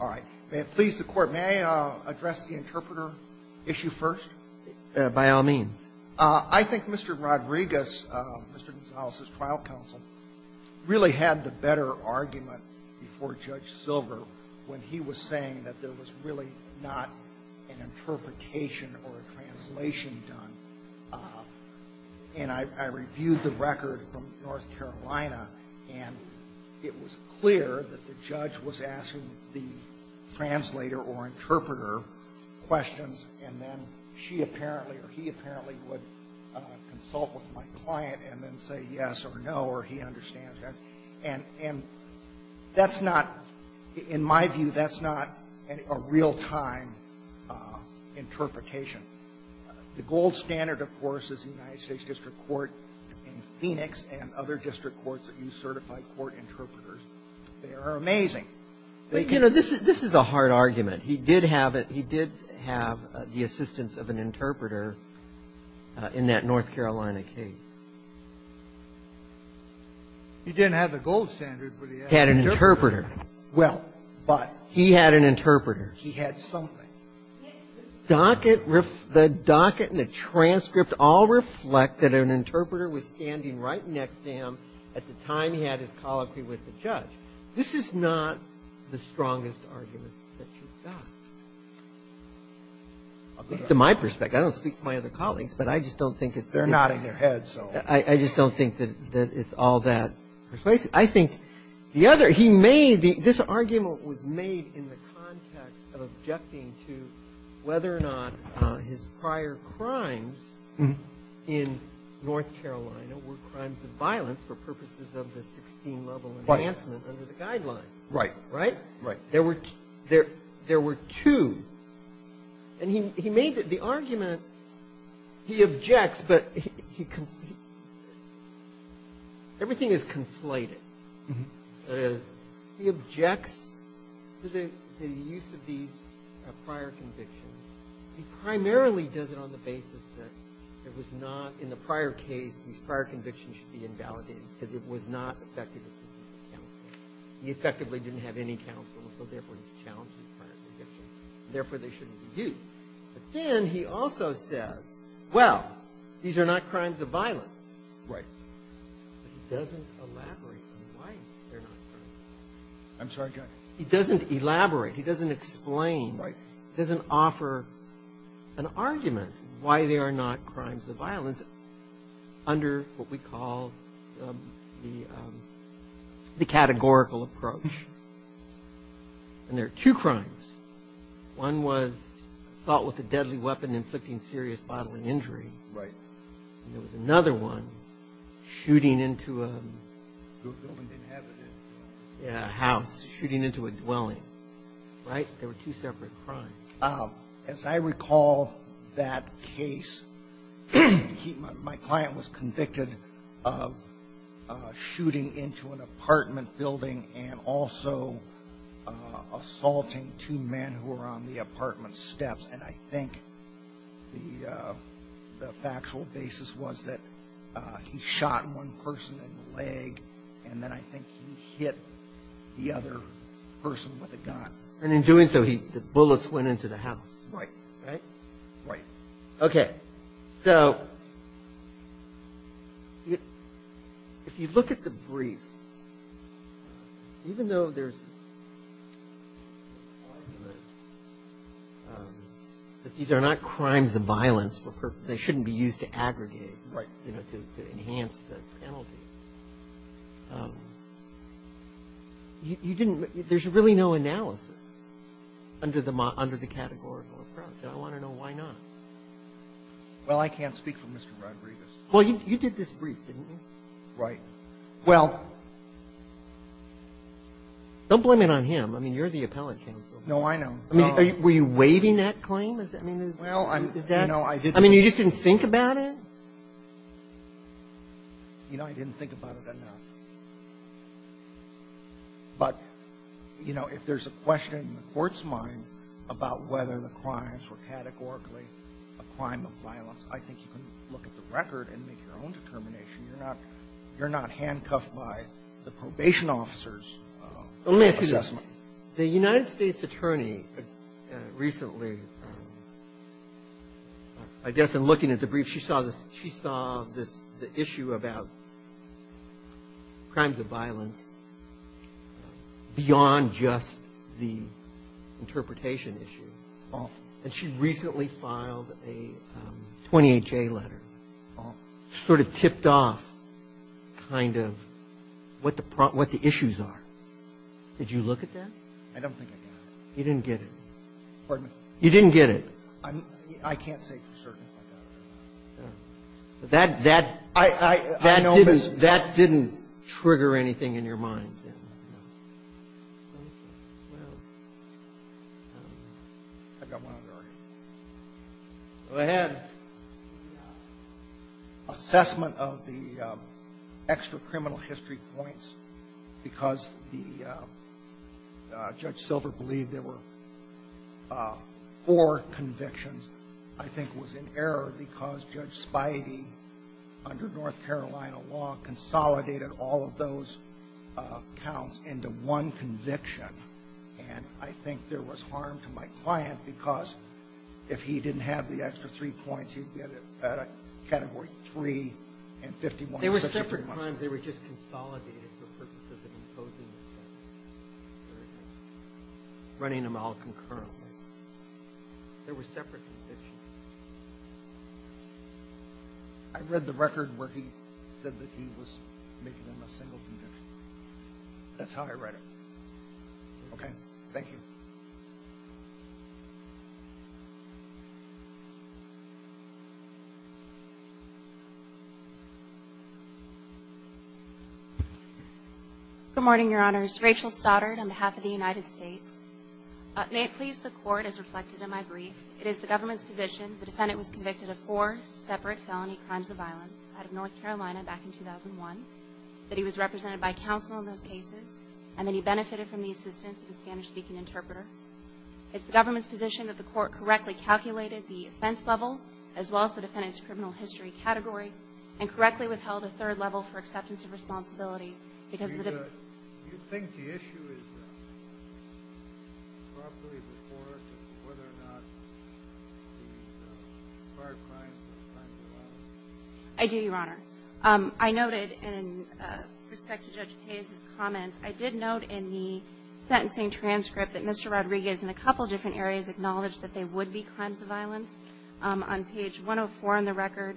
All right. Please, the Court, may I address the interpreter issue first? By all means. I think Mr. Rodriguez, Mr. Gonzalez's trial counsel, really had the better argument before Judge Silver when he was saying that there was really not an interpretation or a translation done. And I reviewed the record from North Carolina, and it was clear that the judge was asking the translator or interpreter questions, and then she apparently or he apparently would consult with my client and then say yes or no or he understands that. And that's not, in my view, that's not a real-time interpretation. The gold standard, of course, is the United States District Court in Phoenix and other district courts that use certified court interpreters. They are amazing. They can be used. But, you know, this is a hard argument. He did have it. He did have the assistance of an interpreter in that North Carolina case. He didn't have the gold standard, but he had an interpreter. Well, but he had an interpreter. He had something. The docket and the transcript all reflect that an interpreter was standing right next to him at the time he had his colloquy with the judge. This is not the strongest argument that you've got, I think, to my perspective. I don't speak for my other colleagues, but I just don't think it's the case. They're nodding their heads, so. I just don't think that it's all that persuasive. I think the other he made the this argument was made in the context of objecting to whether or not his prior crimes in North Carolina were crimes of violence for purposes of the 16-level enhancement under the Guidelines. Right. Right? Right. There were two. And he made the argument, he objects, but everything is conflated. That is, he objects to the use of these prior convictions. He primarily does it on the basis that it was not, in the prior case, these prior convictions should be invalidated because it was not effective assistance to counsel. He effectively didn't have any counsel, and so, therefore, he challenged these prior convictions, and therefore, they shouldn't be used. But then he also says, well, these are not crimes of violence. Right. But he doesn't elaborate on why they're not crimes of violence. I'm sorry, go ahead. He doesn't elaborate. He doesn't explain. Right. He doesn't offer an argument why they are not crimes of violence under what we call the categorical approach. And there are two crimes. One was assault with a deadly weapon inflicting serious bodily injury. Right. And there was another one, shooting into a house, shooting into a dwelling. Right? They were two separate crimes. As I recall that case, my client was convicted of shooting into an apartment building and also assaulting two men who were on the apartment steps. And I think the factual basis was that he shot one person in the leg, and then I think he hit the other person with a gun. And in doing so, the bullets went into the house. Right. Right? Right. Okay. So if you look at the brief, even though there's this argument that these are not crimes of violence, they shouldn't be used to aggregate, you know, to enhance the penalty, there's really no analysis under the categorical approach. And I want to know why not. Well, I can't speak for Mr. Rodriguez. Well, you did this brief, didn't you? Right. Well — Don't blame it on him. I mean, you're the appellate counsel. No, I know. I mean, were you waiving that claim? I mean, is that — Well, you know, I didn't — I mean, you just didn't think about it? You know, I didn't think about it enough. But, you know, if there's a question in the Court's mind about whether the crimes were categorically a crime of violence, I think you can look at the record and make your own determination. You're not handcuffed by the probation officer's assessment. Well, let me ask you this. The United States attorney recently, I guess, in looking at the brief, she saw this — the issue about crimes of violence beyond just the interpretation issue. And she recently filed a 20HA letter, sort of tipped off kind of what the issues are. Did you look at that? I don't think I did. You didn't get it. Pardon me? You didn't get it. I can't say for certain that I got it. But that — that — I — I — I know, but — That didn't — that didn't trigger anything in your mind, did it? No. Thank you. Well, I don't know. I've got one on the record. Go ahead. Assessment of the extra-criminal history points, because the — Judge Silver believed there were four convictions. I think it was in error because Judge Spidey, under North Carolina law, consolidated all of those counts into one conviction. And I think there was harm to my client because if he didn't have the extra three points, he'd get a category 3 and 51. There were separate crimes. They were just consolidated for purposes of imposing the sentence. Very good. Running them all concurrently. There were separate convictions. I read the record where he said that he was making them a single conviction. That's how I read it. Okay. Thank you. Good morning, Your Honors. My name is Rachel Stoddard on behalf of the United States. May it please the Court, as reflected in my brief, it is the government's position the defendant was convicted of four separate felony crimes of violence out of North Carolina back in 2001, that he was represented by counsel in those cases, and that he benefited from the assistance of a Spanish-speaking interpreter. It's the government's position that the Court correctly calculated the offense level as well as the defendant's criminal history category, and correctly withheld a third level for acceptance of responsibility because the — Very good. Do you think the issue is properly before us as to whether or not the prior crimes were crimes of violence? I do, Your Honor. I noted in respect to Judge Paiz's comment, I did note in the sentencing transcript that Mr. Rodriguez in a couple different areas acknowledged that they would be crimes of violence. On page 104 in the record,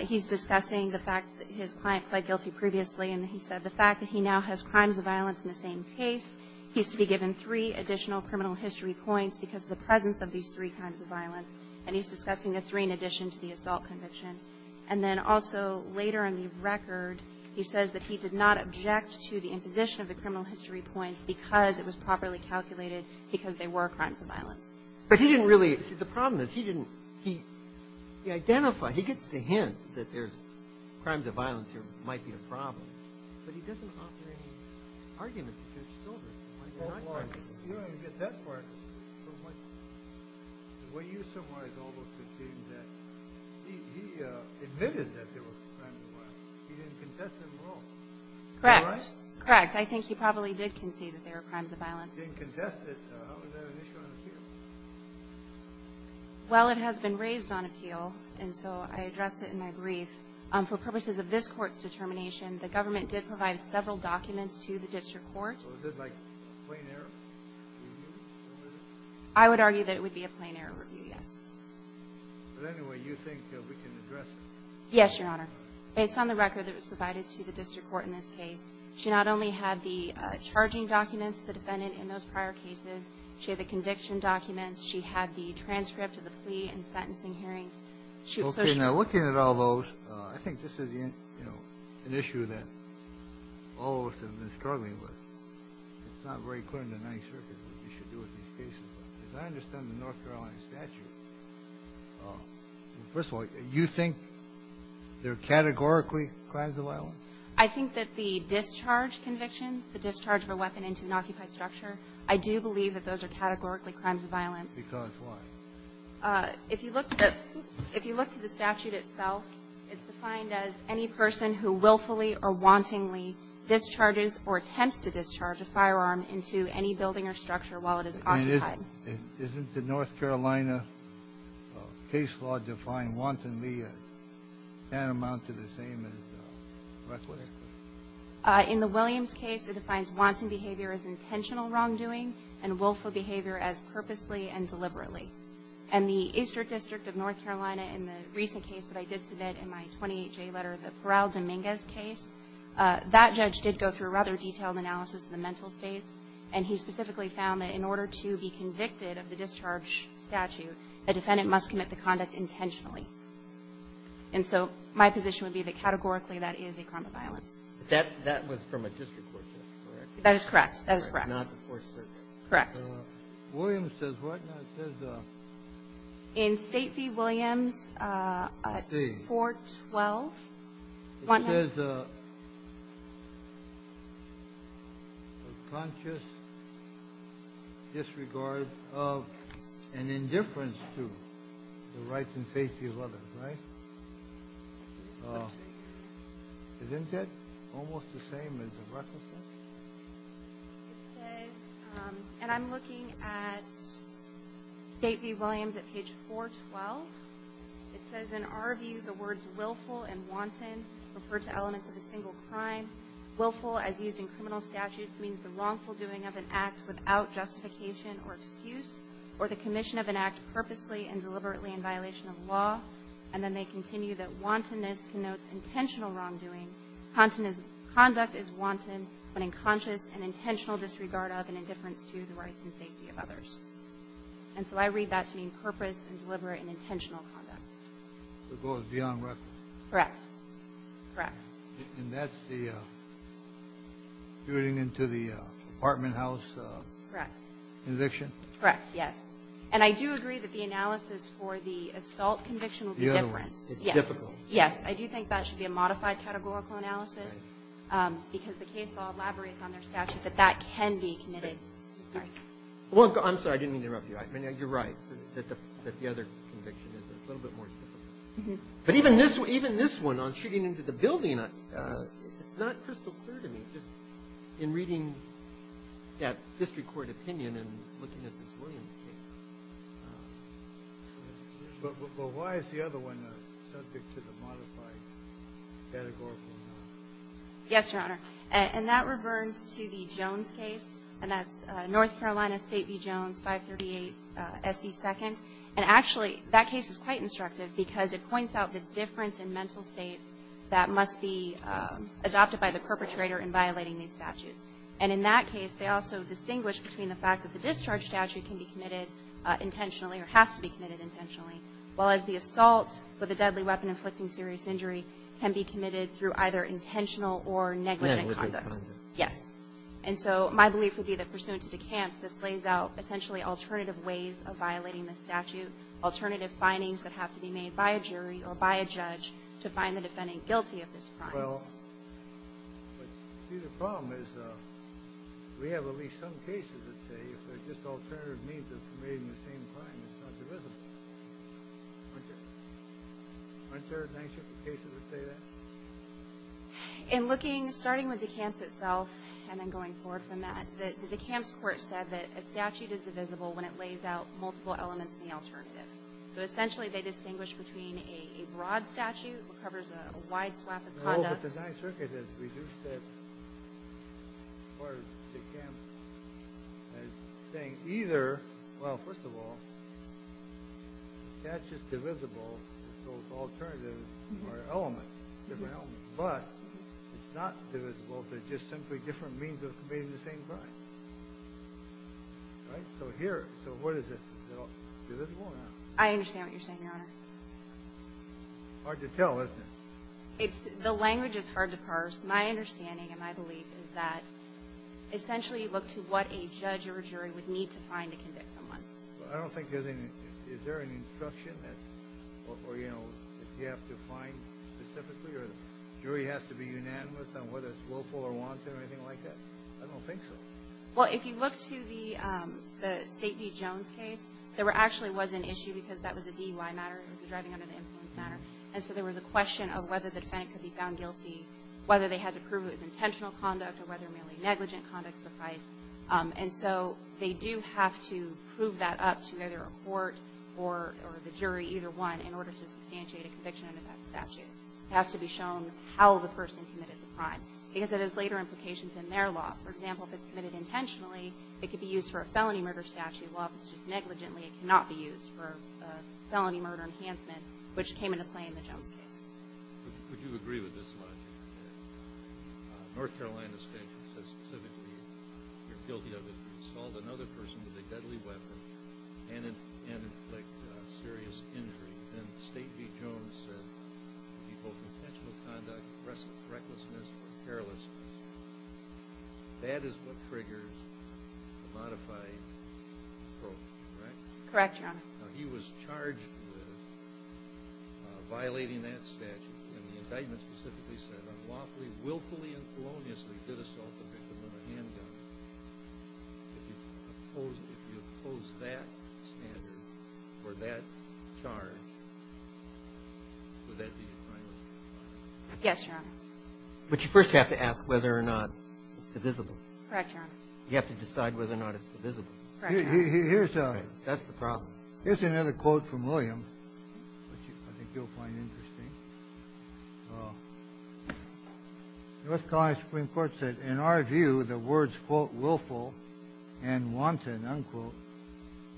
he's discussing the fact that his client pled guilty previously, and he said the fact that he now has crimes of violence in the same case, he's to be given three additional criminal history points because of the presence of these three crimes of violence. And he's discussing the three in addition to the assault conviction. And then also, later in the record, he says that he did not object to the imposition of the criminal history points because it was properly calculated because they were crimes of violence. But he didn't really — see, the problem is he didn't — he identified — he gets the hint that there's crimes of violence here might be a problem. But he doesn't offer any argument to Judge Silvers. He might deny that. Well, why? You don't even get that far. From what you so far have always conceded that — he admitted that there were crimes of violence. He didn't contest them at all. Correct. Correct. I think he probably did concede that they were crimes of violence. He didn't contest it. How is that an issue on appeal? Well, it has been raised on appeal, and so I addressed it in my brief. For purposes of this Court's determination, the government did provide several documents to the district court. So is it like a plain-error review? I would argue that it would be a plain-error review, yes. But anyway, you think we can address it? Yes, Your Honor. Based on the record that was provided to the district court in this case, she not only had the charging documents of the defendant in those prior cases, she had the conviction documents, she had the transcript of the plea and sentencing hearings. Okay. Now, looking at all those, I think this is, you know, an issue that all of us have been struggling with. It's not very clear in the Ninth Circuit what we should do with these cases. But as I understand the North Carolina statute, first of all, you think they're categorically crimes of violence? I think that the discharge convictions, the discharge of a weapon into an occupied structure, I do believe that those are categorically crimes of violence. Because what? If you look to the statute itself, it's defined as any person who willfully or wantonly discharges or attempts to discharge a firearm into any building or structure while it is occupied. Isn't the North Carolina case law defined wantonly as tantamount to the same as reckless? In the Williams case, it defines wanton behavior as intentional wrongdoing and willful behavior as purposely and deliberately. And the Eastern District of North Carolina in the recent case that I did submit in my 28J letter, the Peral Dominguez case, that judge did go through a rather detailed analysis of the mental states, and he specifically found that in order to be convicted of the discharge statute, a defendant must commit the conduct intentionally. And so my position would be that categorically that is a crime of violence. But that was from a district court case, correct? That is correct. That is correct. Not the Fourth Circuit. Correct. Williams says what now? It says in State v. Williams 412. It says a conscious disregard of and indifference to the rights and safety of others, right? Isn't it almost the same as the reckless case? It says, and I'm looking at State v. Williams at page 412. It says in our view the words willful and wanton refer to elements of a single crime. Willful, as used in criminal statutes, means the wrongful doing of an act without justification or excuse or the commission of an act purposely and And then they continue that wantonness connotes intentional wrongdoing. Conduct is wanton when in conscious and intentional disregard of and indifference to the rights and safety of others. And so I read that to mean purpose and deliberate and intentional conduct. So it goes beyond reckless? Correct. Correct. And that's the shooting into the apartment house? Correct. Conviction? Correct, yes. And I do agree that the analysis for the assault conviction will be different. It's difficult. Yes. Yes. I do think that should be a modified categorical analysis because the case law elaborates on their statute that that can be committed. I'm sorry. Well, I'm sorry. I didn't mean to interrupt you. I mean, you're right that the other conviction is a little bit more difficult. But even this one, even this one on shooting into the building, it's not crystal clear to me, just in reading that district court opinion and looking at this Williams case. But why is the other one subject to the modified categorical analysis? Yes, Your Honor. And that reverts to the Jones case, and that's North Carolina State v. Jones, 538 S.C. 2nd. And actually, that case is quite instructive because it points out the difference in mental states that must be adopted by the perpetrator in violating these statutes. And in that case, they also distinguish between the fact that the discharge statute can be committed intentionally or has to be committed intentionally, whereas the assault with a deadly weapon inflicting serious injury can be committed through either intentional or negligent conduct. Negligent conduct. Yes. And so my belief would be that pursuant to DeCamps, this lays out essentially alternative ways of violating the statute, alternative findings that have to be made by a jury or by a judge to find the defendant guilty of this crime. Well, see, the problem is we have at least some cases that say if there's just alternative means of committing the same crime, it's not divisible. Aren't there? Aren't there cases that say that? In looking, starting with DeCamps itself and then going forward from that, the DeCamps court said that a statute is divisible when it lays out multiple elements in the alternative. So essentially they distinguish between a broad statute that covers a wide swath of conduct. Well, but the Ninth Circuit has reduced that part of DeCamps as saying either, well, first of all, that's just divisible, so it's alternative or elements, different elements. But it's not divisible. They're just simply different means of committing the same crime. Right? So here, so what is this? I understand what you're saying, Your Honor. Hard to tell, isn't it? It's, the language is hard to parse. My understanding and my belief is that essentially you look to what a judge or a jury would need to find to convict someone. I don't think there's any, is there any instruction that, or, you know, if you have to find specifically or the jury has to be unanimous on whether it's willful or wanton or anything like that? I don't think so. Well, if you look to the State v. Jones case, there actually was an issue because that was a DUI matter. It was a driving under the influence matter. And so there was a question of whether the defendant could be found guilty, whether they had to prove it was intentional conduct or whether merely negligent conduct sufficed. And so they do have to prove that up to either a court or the jury, either one, in order to substantiate a conviction under that statute. It has to be shown how the person committed the crime because it has later implications in their law. For example, if it's committed intentionally, it could be used for a felony murder statute, while if it's just negligently, it cannot be used for a felony murder enhancement, which came into play in the Jones case. Would you agree with this logic that North Carolina State, specifically, you're guilty of it, could assault another person with a deadly weapon and inflict serious injury, and State v. Jones said it could be both intentional conduct, recklessness, or carelessness. That is what triggers a modified approach, correct? Correct, Your Honor. Now, he was charged with violating that statute, and the indictment specifically said unlawfully, willfully, and coloniously did assault a victim with a handgun. If you oppose that standard for that charge, would that be a crime? Yes, Your Honor. But you first have to ask whether or not it's divisible. Correct, Your Honor. You have to decide whether or not it's divisible. Correct, Your Honor. That's the problem. Here's another quote from Williams, which I think you'll find interesting. Well, North Carolina Supreme Court said, in our view, the words, quote, willful and wanton, unquote,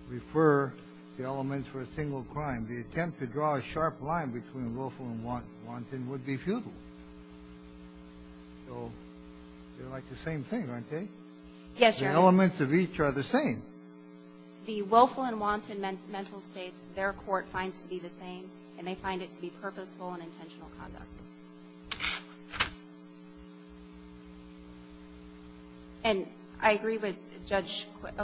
refer to elements for a single crime. The attempt to draw a sharp line between willful and wanton would be futile. So they're like the same thing, aren't they? Yes, Your Honor. The elements of each are the same. The willful and wanton mental states, their court finds to be the same, and they find it to be purposeful and intentional conduct. And I agree with Judge Quist.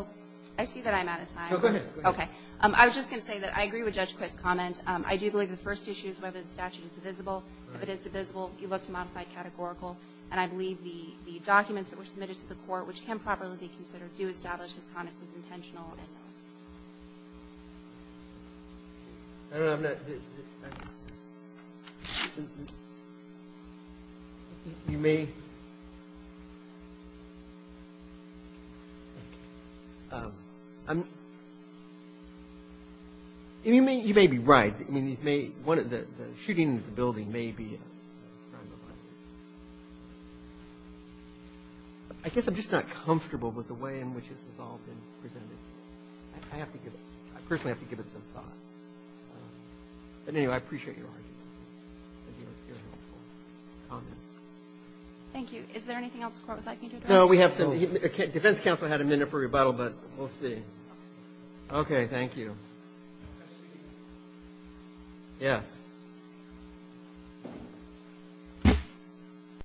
I see that I'm out of time. No, go ahead. Okay. I was just going to say that I agree with Judge Quist's comment. I do believe the first issue is whether the statute is divisible. If it is divisible, you look to modify categorical. And I believe the documents that were submitted to the court, which can properly be considered, do establish his conduct was intentional. I don't know. I'm not – you may – you may be right. I mean, the shooting of the building may be a crime of life. I guess I'm just not comfortable with the way in which this has all been presented. I have to give – I personally have to give it some thought. But anyway, I appreciate your argument and your comments. Thank you. Is there anything else the court would like me to address? No, we have some – the defense counsel had a minute for rebuttal, but we'll see. Okay, thank you. Yes.